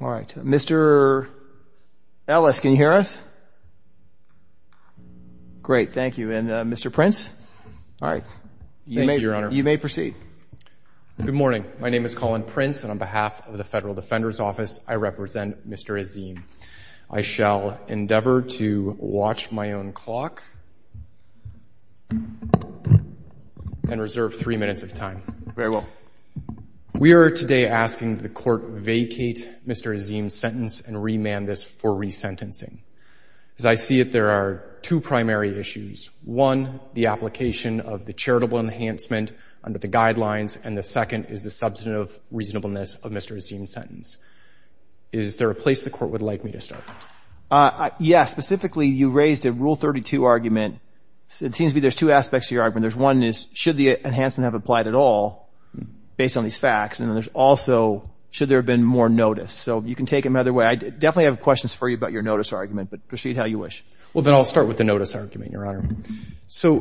All right. Mr. Ellis, can you hear us? Great. Thank you. And Mr. Prince? All right. You may proceed. Good morning. My name is Colin Prince, and on behalf of the Federal Defender's Office I represent Mr. Azeem. I shall endeavor to watch my own clock and reserve three minutes of time. Very well. We are today asking the Court vacate Mr. Azeem's sentence and remand this for resentencing. As I see it, there are two primary issues. One, the application of the charitable enhancement under the guidelines, and the second is the substantive reasonableness of Mr. Azeem's sentence. Is there a place the Court would like me to start? Yes. Specifically, you raised a Rule 32 argument. It seems to me there's two aspects to your argument. One is, should the enhancement have applied at all, based on these facts? And there's also, should there have been more notice? So you can take them either way. I definitely have questions for you about your notice argument, but proceed how you wish. Well, then I'll start with the notice argument, Your Honor. So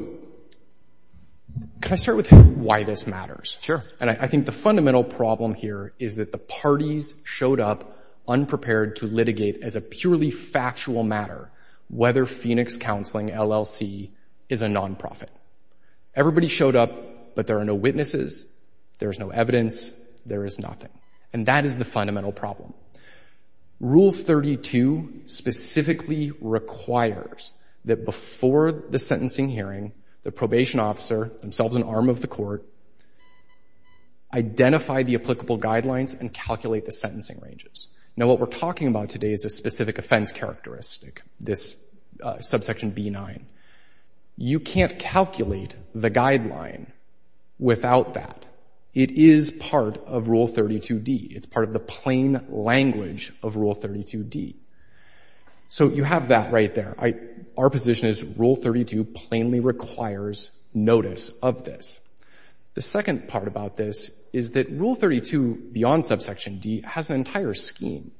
can I start with why this matters? Sure. And I think the fundamental problem here is that the parties showed up unprepared to litigate as a purely factual matter whether Phoenix Counseling, LLC, is a non-profit. Everybody showed up, but there are no witnesses, there is no evidence, there is nothing. And that is the fundamental problem. Rule 32 specifically requires that before the sentencing hearing, the probation officer, themselves an arm of the Court, identify the applicable guidelines and calculate the characteristic, this Subsection B-9. You can't calculate the guideline without that. It is part of Rule 32d. It's part of the plain language of Rule 32d. So you have that right there. Our position is Rule 32 plainly requires notice of this. The second part about this is that Rule 32 beyond Subsection D has an entire scheme.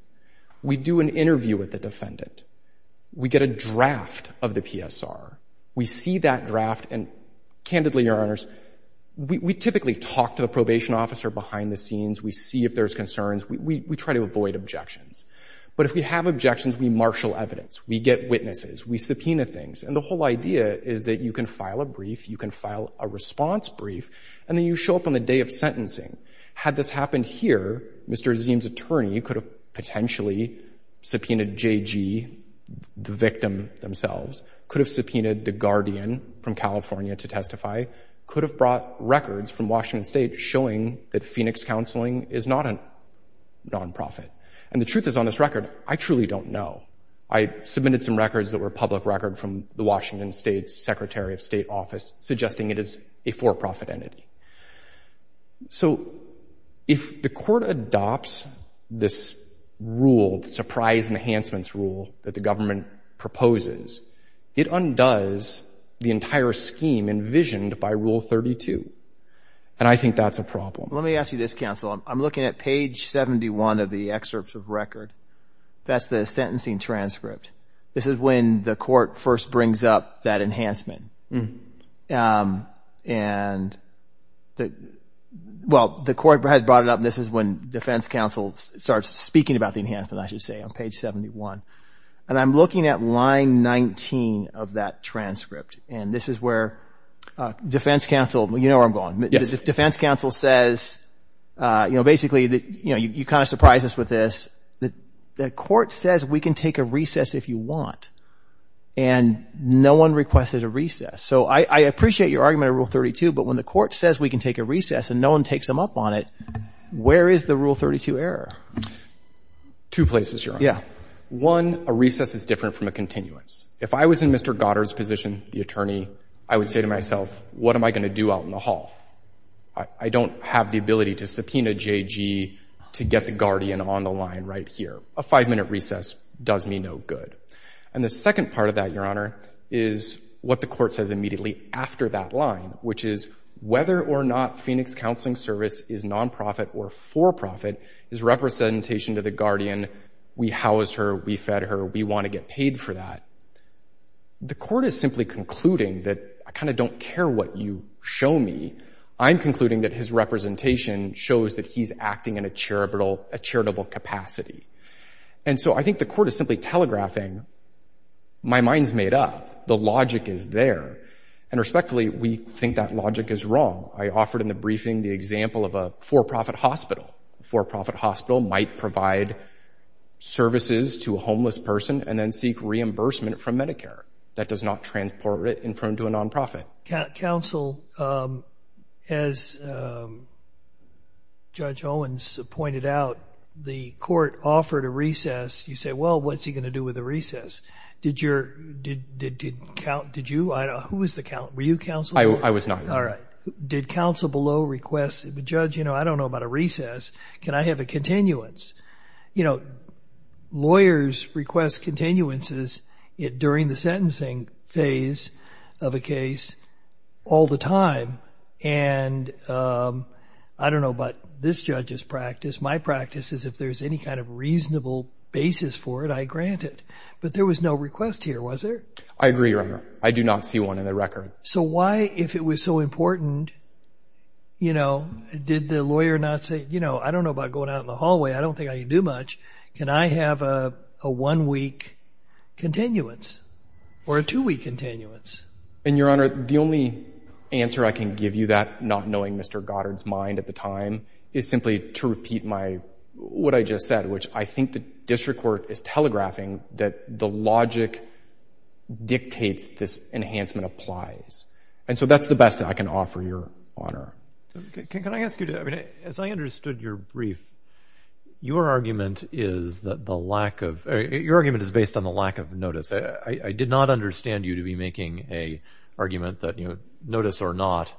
We do an interview with the defendant. We get a draft of the PSR. We see that draft and, candidly, Your Honors, we typically talk to the probation officer behind the scenes. We see if there's concerns. We try to avoid objections. But if we have objections, we marshal evidence. We get witnesses. We subpoena things. And the whole idea is that you can file a brief, you can file a response brief, and then you show up on the day of sentencing. Had this happened here, Mr. Azeem's attorney could have potentially subpoenaed J.G., the victim themselves, could have subpoenaed the guardian from California to testify, could have brought records from Washington State showing that Phoenix Counseling is not a nonprofit. And the truth is, on this record, I truly don't know. I submitted some records that were public record from the Washington State's Secretary of State Office, suggesting it is a for-profit entity. So if the court adopts this rule, the Surprise Enhancements Rule that the government proposes, it undoes the entire scheme envisioned by Rule 32. And I think that's a problem. Let me ask you this, counsel. I'm looking at page 71 of the excerpts of record. That's the sentencing transcript. This is when the court first brings up that enhancement. And the, well, the court had brought it up. This is when defense counsel starts speaking about the enhancement, I should say, on page 71. And I'm looking at line 19 of that transcript. And this is where defense counsel, you know where I'm going. Defense counsel says, you know, you kind of surprise us with this. The court says we can take a recess if you want. And no one requested a recess. So I appreciate your argument on Rule 32, but when the court says we can take a recess and no one takes them up on it, where is the Rule 32 error? Two places, Your Honor. Yeah. One, a recess is different from a continuance. If I was in Mr. Goddard's position, the attorney, I would say to myself, what am I going to do out in the hall? I don't have the ability to subpoena J.G. to get the guardian on the line right here. A five-minute recess does me no good. And the second part of that, Your Honor, is what the court says immediately after that line, which is whether or not Phoenix Counseling Service is nonprofit or for-profit is representation to the guardian. We housed her. We fed her. We want to get paid for that. The court is simply concluding that I kind of don't care what you show me. I'm concluding that his representation shows that he's acting in a charitable capacity. And so I think the court is simply telegraphing, my mind's made up. The logic is there. And respectfully, we think that logic is wrong. I offered in the briefing the example of a for-profit hospital. A for-profit hospital might provide services to a homeless person and then seek reimbursement from Medicare. That does not transport it in front of a nonprofit. Counsel, as Judge Owens pointed out, the court offered a recess. You say, well, what's he going to do with the recess? Did you? I don't know. Who was the counsel? Were you counsel? I was not. All right. Did counsel below request, the judge, you know, I don't know about a recess. Can I have a continuance? You know, lawyers request continuances during the sentencing phase of a case all the time. And I don't know about this judge's practice. My practice is if there's any kind of reasonable basis for it, I grant it. But there was no request here, was there? I agree, Your Honor. I do not see one in the record. So why, if it was so important, you know, did the lawyer not say, you know, I don't know about going out in the hallway. I don't think I can do much. Can I have a one-week continuance or a two-week continuance? And, Your Honor, the only answer I can give you that, not knowing Mr. Goddard's mind at the time, is simply to repeat my, what I just said, which I think the district court is telegraphing that the logic dictates this enhancement applies. And so that's the best that I can offer, Your Honor. Can I ask you to, I mean, as I understood your brief, your argument is that the lack of, your argument is based on the lack of notice. I did not understand you to be making a argument that, you know, notice or not,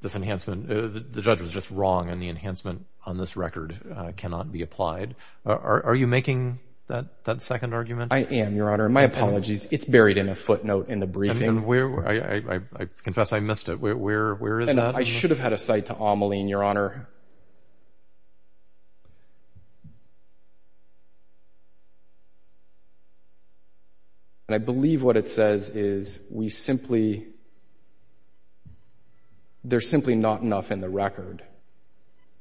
this enhancement, the judge was just wrong and the enhancement on this record cannot be applied. Are you making that second argument? I am, Your Honor. My apologies. It's buried in a footnote in the briefing. And where, I confess I missed it. Where is that? I should have had a cite to Ameline, Your Honor. And I believe what it says is we simply, there's simply not enough in the record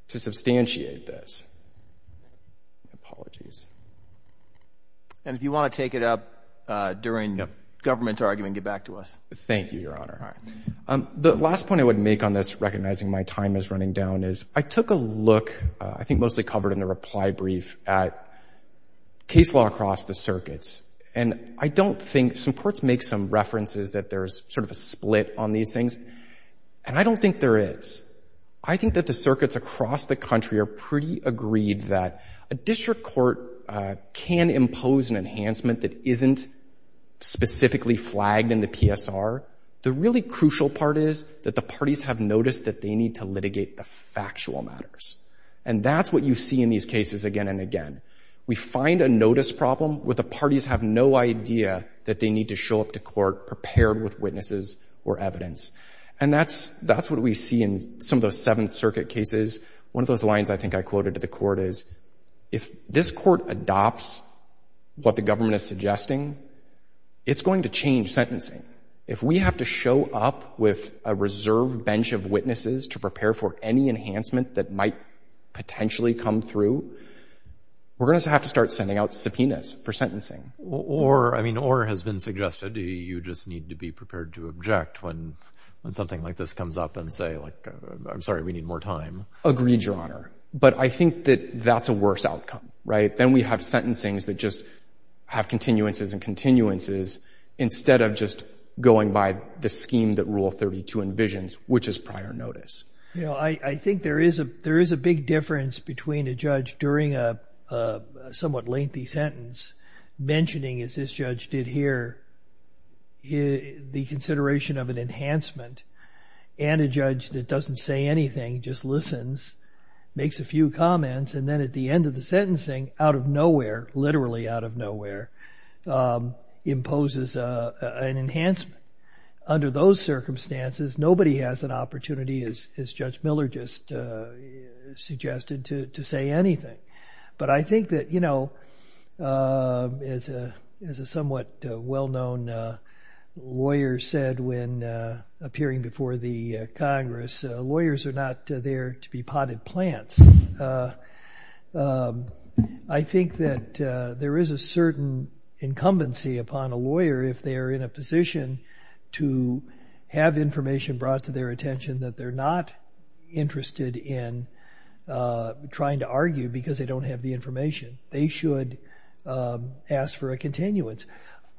to substantiate this. Apologies. And if you want to take it up during the government's argument, get back to us. Thank you, Your Honor. The last point I would make on this, recognizing my time is running down, is I took a look, I think mostly covered in the reply brief, at case law across the circuits. And I don't think, some courts make some references that there's sort of a split on these things. And I don't think there is. I think that the circuits across the country are pretty agreed that a district court can impose an enhancement that isn't specifically flagged in the PSR. The really crucial part is that the parties have noticed that they need to litigate the factual matters. And that's what you see in these cases again and again. We find a notice problem where the parties have no idea that they need to show up to court prepared with witnesses or evidence. And that's what we see in some of those Seventh Circuit cases. One of those lines I think I quoted to the court is, if this court adopts what the government is suggesting, it's going to change sentencing. If we have to show up with a reserve bench of witnesses to prepare for any enhancement that might potentially come through, we're going to have to start sending out subpoenas for sentencing. Or, I mean, or has been suggested, you just need to be prepared to object when something like this comes up and say, like, I'm sorry, we need more time. Agreed, Your Honor. But I think that that's a worse outcome, right? Then we have sentencings that just have continuances and continuances instead of just going by the scheme that Rule 32 envisions, which is prior notice. You know, I think there is a big difference between a judge during a somewhat lengthy sentence mentioning, as this judge did here, the consideration of an enhancement. He listens, makes a few comments, and then at the end of the sentencing, out of nowhere, literally out of nowhere, imposes an enhancement. Under those circumstances, nobody has an opportunity, as Judge Miller just suggested, to say anything. But I think that, you know, as a somewhat well-known lawyer said when appearing before the Congress, lawyers are not there to be potted plants. I think that there is a certain incumbency upon a lawyer if they are in a position to have information brought to their attention that they're not interested in trying to argue because they don't have the information. They should ask for a continuance.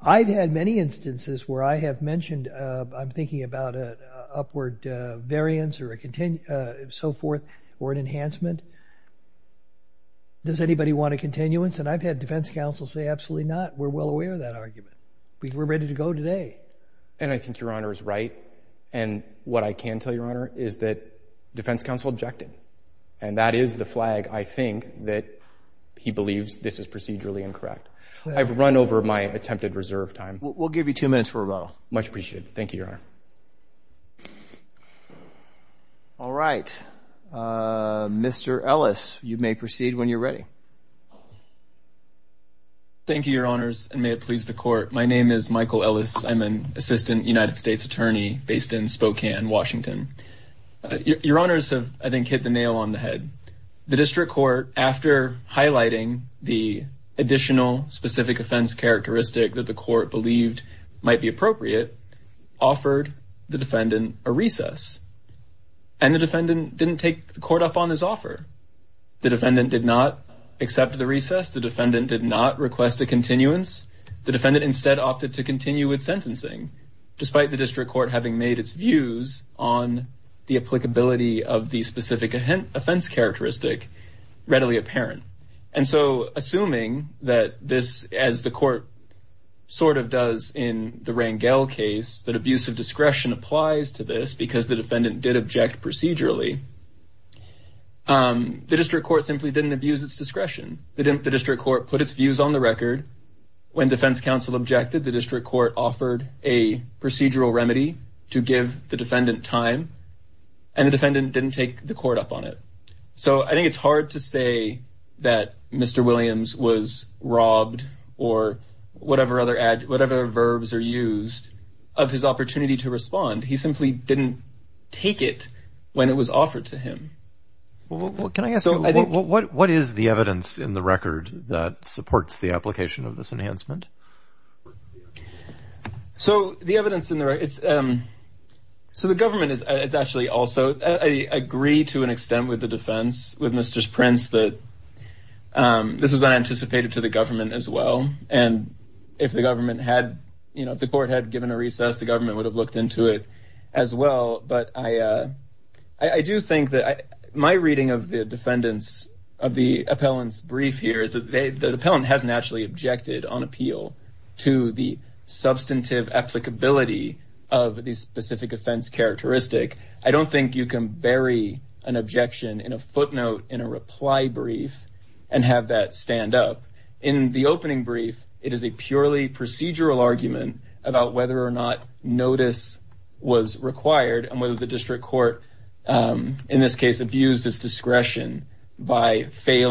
I've had many instances where I have mentioned, I'm thinking about an upward variance or so forth, or an enhancement. Does anybody want a continuance? And I've had defense counsel say, absolutely not. We're well aware of that argument. We're ready to go today. And I think Your Honor is right. And what I can tell Your Honor is that defense counsel objected. And that is the flag, I think, that he believes this is procedurally incorrect. I've run over my attempted reserve time. We'll give you two minutes for a row. Much appreciated. Thank you, Your Honor. All right. Mr. Ellis, you may proceed when you're ready. Thank you, Your Honors, and may it please the court. My name is Michael Ellis. I'm an assistant United States attorney based in Spokane, Washington. Your Honors have, I think, hit the nail on the head. The district court, after highlighting the additional specific offense characteristic that the court believed might be appropriate, offered the defendant a recess. And the defendant didn't take the court up on this offer. The defendant did not accept the recess. The defendant did not request a continuance. The defendant instead opted to continue with sentencing, despite the district court having made its views on the applicability of the specific offense characteristic readily apparent. And so, assuming that this, as the sort of does in the Rangel case, that abuse of discretion applies to this because the defendant did object procedurally, the district court simply didn't abuse its discretion. The district court put its views on the record. When defense counsel objected, the district court offered a procedural remedy to give the defendant time, and the defendant didn't take the court up on it. So, I think it's hard to say that Mr. Williams was robbed or whatever other ad, whatever verbs are used of his opportunity to respond. He simply didn't take it when it was offered to him. Well, can I ask you, what is the evidence in the record that supports the application of this enhancement? So, the evidence in there, it's, so the government is actually also, I agree to an offense with Mr. Prince that this was unanticipated to the government as well. And if the government had, you know, if the court had given a recess, the government would have looked into it as well. But I do think that my reading of the defendant's, of the appellant's brief here is that the appellant hasn't actually objected on appeal to the substantive applicability of the specific offense characteristic. I don't think you can bury an objection in a footnote in a reply brief and have that stand up. In the opening brief, it is a purely procedural argument about whether or not notice was required and whether the district court, in this case, abused its discretion by whether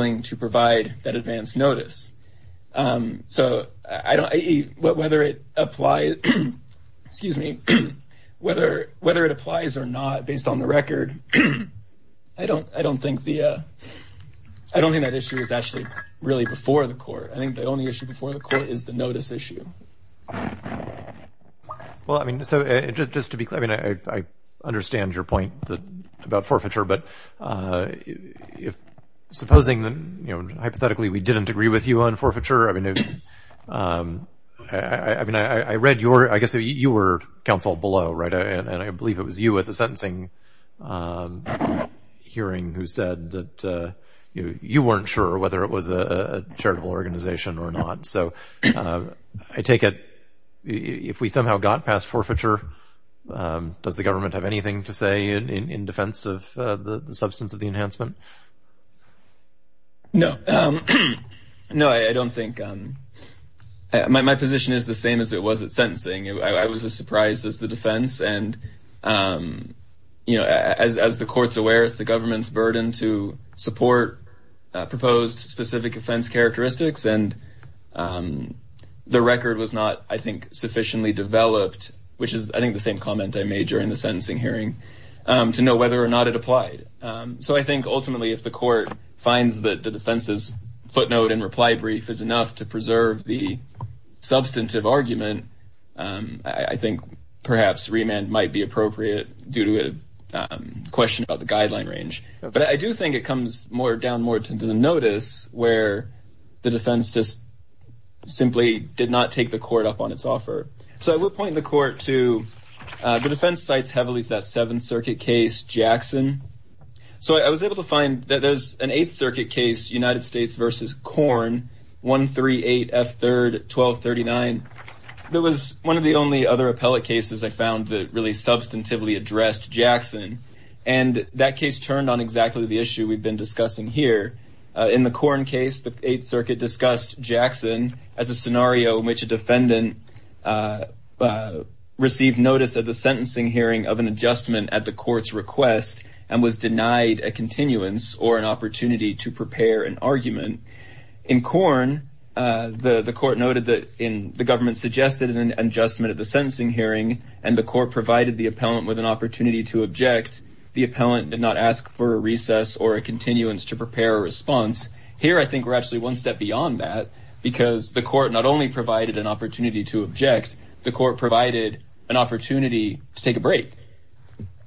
it applies or not based on the record. I don't think the, I don't think that issue is actually really before the court. I think the only issue before the court is the notice issue. Well, I mean, so just to be clear, I mean, I understand your point about forfeiture, but if supposing that, you know, hypothetically, we didn't agree with you on forfeiture, I mean, I mean, I read your, I guess you were counseled below, right? And I believe it was you at the sentencing hearing who said that you weren't sure whether it was a charitable organization or not. So I take it, if we somehow got past forfeiture, does the government have anything to say in that? My position is the same as it was at sentencing. I was as surprised as the defense. And, you know, as the court's aware, it's the government's burden to support proposed specific offense characteristics. And the record was not, I think, sufficiently developed, which is, I think, the same comment I made during the sentencing hearing, to know whether or not it applied. So I think ultimately, if the court finds that the defense's footnote and reply brief is enough to preserve the substantive argument, I think perhaps remand might be appropriate due to a question about the guideline range. But I do think it comes more down more to the notice where the defense just simply did not take the court up on its offer. So I will point the court to the defense sites heavily to that Seventh Circuit case, Jackson. So I was able to find that there's an Eighth Circuit case, United States versus Korn, 138 F3rd 1239. There was one of the only other appellate cases I found that really substantively addressed Jackson. And that case turned on exactly the issue we've been discussing here. In the Korn case, the Eighth Circuit discussed Jackson as a scenario in which a defendant received notice of the sentencing hearing of an adjustment at the court's request and was denied a continuance or an opportunity to prepare an argument. In Korn, the court noted that the government suggested an adjustment at the sentencing hearing, and the court provided the appellant with an opportunity to object. The appellant did not ask for a recess or a continuance to prepare a response. Here, I think we're actually one step beyond that, because the court not only provided an opportunity to object, the court provided an opportunity to take a break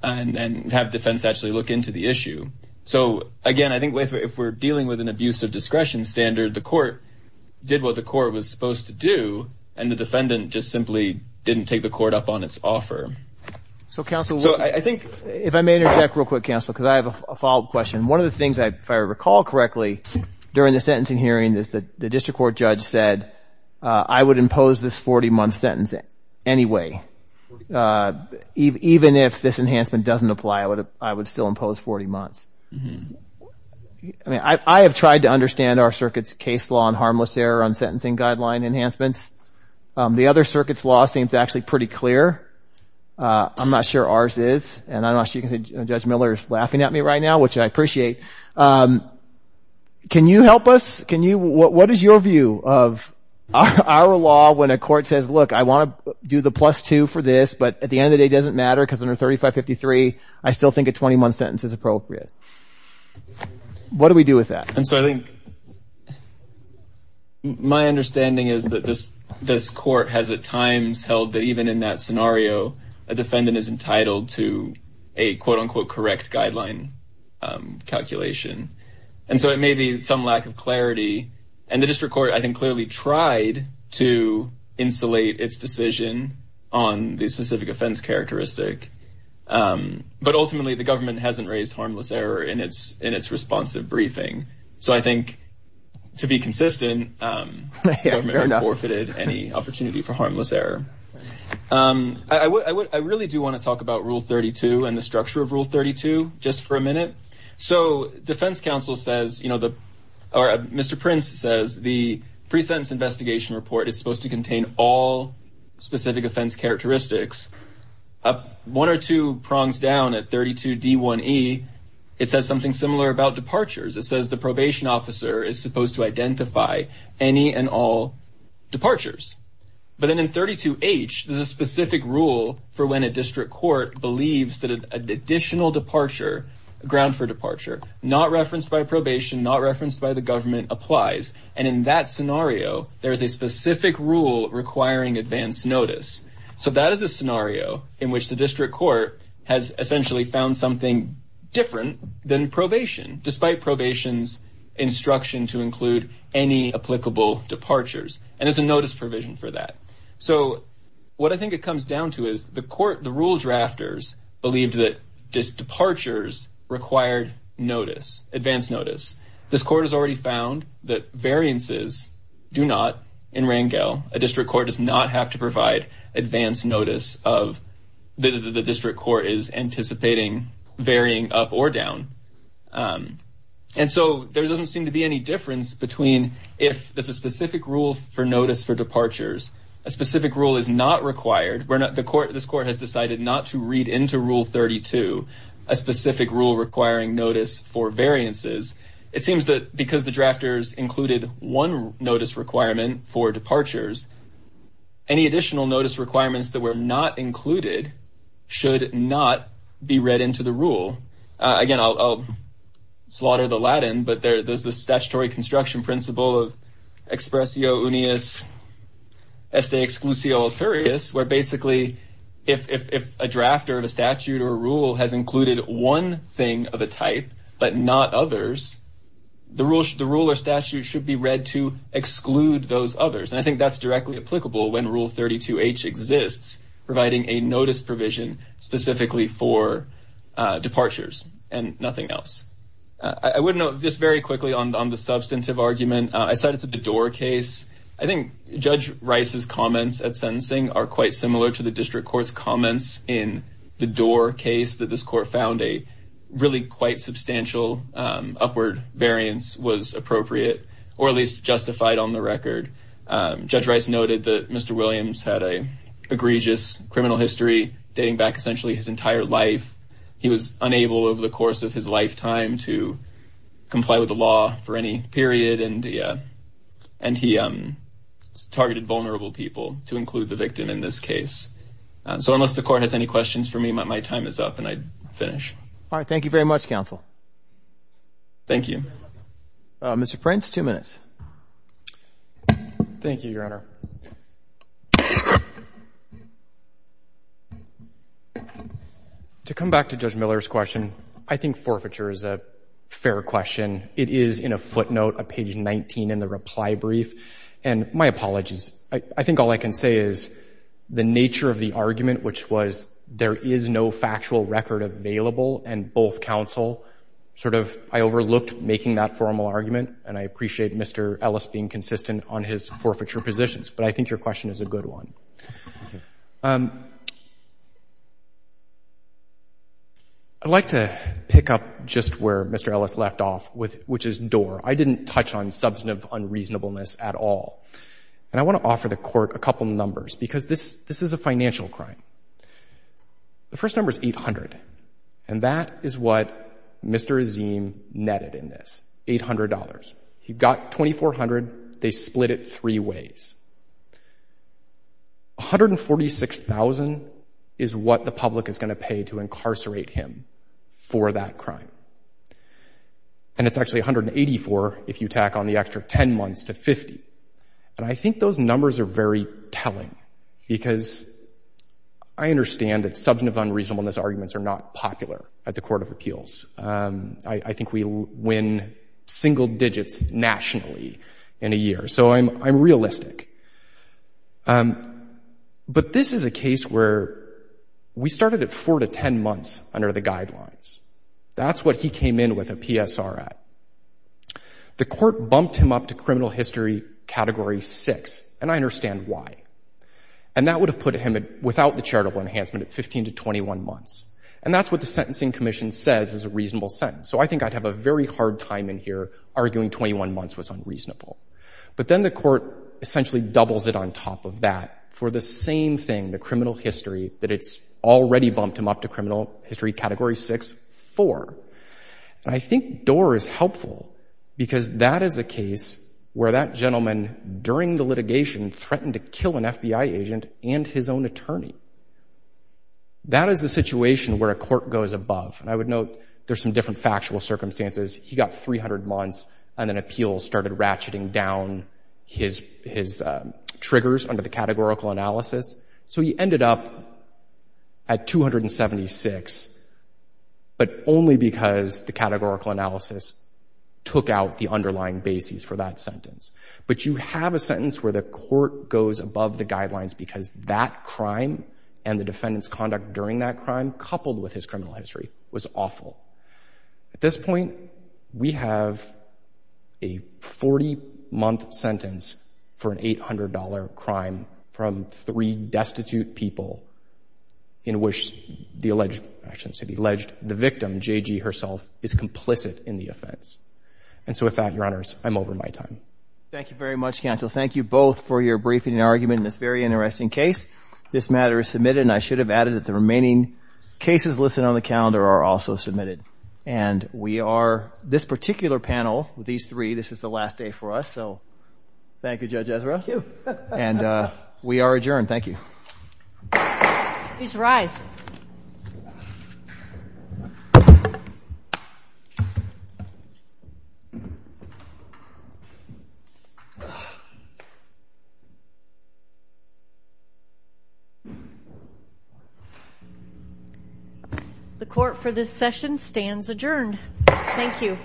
and have defense actually look into the issue. So again, I think if we're dealing with an abuse of discretion standard, the court did what the court was supposed to do, and the defendant just simply didn't take the court up on its offer. So, counsel, I think if I may interject real quick, counsel, because I have a follow-up question. One of the things, if I recall correctly, during the sentencing hearing is that district court judge said, I would impose this 40-month sentence anyway. Even if this enhancement doesn't apply, I would still impose 40 months. I mean, I have tried to understand our circuit's case law on harmless error on sentencing guideline enhancements. The other circuit's law seems actually pretty clear. I'm not sure ours is, and I'm not sure you can say Judge Miller is laughing at me right now, which I appreciate. Can you help us? What is your view of our law when a court says, look, I want to do the plus two for this, but at the end of the day, it doesn't matter because under 3553, I still think a 20-month sentence is appropriate. What do we do with that? And so I think my understanding is that this court has at times held that even in that scenario, a defendant is entitled to a quote-unquote correct guideline calculation. And so it may be some lack of clarity. And the district court, I think, clearly tried to insulate its decision on the specific offense characteristic. But ultimately, the government hasn't raised harmless error in its responsive briefing. So I think to be consistent, the government hasn't forfeited any opportunity for harmless error. I really do want to talk about Rule 32 and the structure of Rule 32 just for a minute. So defense counsel says, or Mr. Prince says, the pre-sentence investigation report is supposed to contain all specific offense characteristics. One or two prongs down at 32D1E, it says something similar about departures. It says the probation officer is supposed to identify any and all departures. But then in 32H, there's a specific rule for when a district court believes that an additional departure, a ground for departure, not referenced by probation, not referenced by the government, applies. And in that scenario, there is a specific rule requiring advance notice. So that is a scenario in which the district court has essentially found something different than probation, despite probation's instruction to include any applicable departures. And there's a notice provision for that. So what I think it comes down to is the court, the rule drafters, believed that these departures required notice, advance notice. This court has already found that variances do not in Rangel. A district court does not have to provide advance notice of the district court is anticipating varying up or down. And so there doesn't seem to be any difference between if there's a specific rule for notice for departures. A specific rule is not required. This court has decided not to read into Rule 32, a specific rule requiring notice for variances. It seems that because the drafters included one notice requirement for not included should not be read into the rule. Again, I'll slaughter the Latin, but there's this statutory construction principle of expressio unius, este exclusio authoris, where basically if a drafter of a statute or rule has included one thing of a type, but not others, the rule or statute should be read to exclude those others. And I think that's directly applicable when Rule 32H exists, providing a notice provision specifically for departures and nothing else. I would note this very quickly on the substantive argument. I cited the Doar case. I think Judge Rice's comments at sentencing are quite similar to the district court's comments in the Doar case that this court found a really quite substantial upward variance was appropriate, or at least had an egregious criminal history dating back essentially his entire life. He was unable over the course of his lifetime to comply with the law for any period, and he targeted vulnerable people to include the victim in this case. So unless the court has any questions for me, my time is up, and I'd finish. All right. Thank you very much, counsel. Thank you. Mr. Prince, two minutes. Thank you, Your Honor. To come back to Judge Miller's question, I think forfeiture is a fair question. It is in a footnote of page 19 in the reply brief, and my apologies. I think all I can say is the nature of the argument, which was there is no factual record available, and both counsel sort of, I overlooked making that formal argument, and I appreciate Mr. Ellis being consistent on his forfeiture positions, but I think your question is a good one. I'd like to pick up just where Mr. Ellis left off, which is Doar. I didn't touch on substantive unreasonableness at all, and I want to offer the court a couple numbers because this is a financial crime. The first number is 800, and that is what Mr. Azeem netted in this, $800. He got $2,400. They split it three ways. $146,000 is what the public is going to pay to incarcerate him for that crime, and it's actually $184,000 if you tack on the extra 10 months to $50,000, and I think those numbers are very telling because I understand that substantive unreasonableness arguments are not popular at the Court of Appeals. I think we win single digits nationally in a year, so I'm realistic, but this is a case where we started at four to 10 months under the guidelines. That's what he came in with a PSR at. The court bumped him up to criminal history category six, and I understand why, and that would have put him without the charitable enhancement at 15 to 21 months, and that's what the Sentencing Commission says is a reasonable sentence, so I think I'd have a very hard time in here arguing 21 months was unreasonable, but then the court essentially doubles it on top of that for the same thing, the criminal history, that it's already bumped him up to criminal history category six, four, and I think Doar is helpful because that is a case where that threatened to kill an FBI agent and his own attorney. That is the situation where a court goes above, and I would note there's some different factual circumstances. He got 300 months, and then appeals started ratcheting down his triggers under the categorical analysis, so he ended up at 276, but only because the categorical analysis took out the underlying basis for that sentence, but you have a sentence where the court goes above the guidelines because that crime and the defendant's conduct during that crime, coupled with his criminal history, was awful. At this point, we have a 40-month sentence for an $800 crime from three destitute people in which the alleged, I shouldn't say the alleged, the victim, JG herself, is complicit in the offense, and so with that, your honors, I'm over my time. Thank you very much, counsel. Thank you both for your briefing and argument in this very interesting case. This matter is submitted, and I should have added that the remaining cases listed on the calendar are also submitted, and we are, this particular panel, these three, this is the last day for us, so thank you, Judge Ezra, and we are adjourned. Thank you. Please rise. The court for this session stands adjourned. Thank you.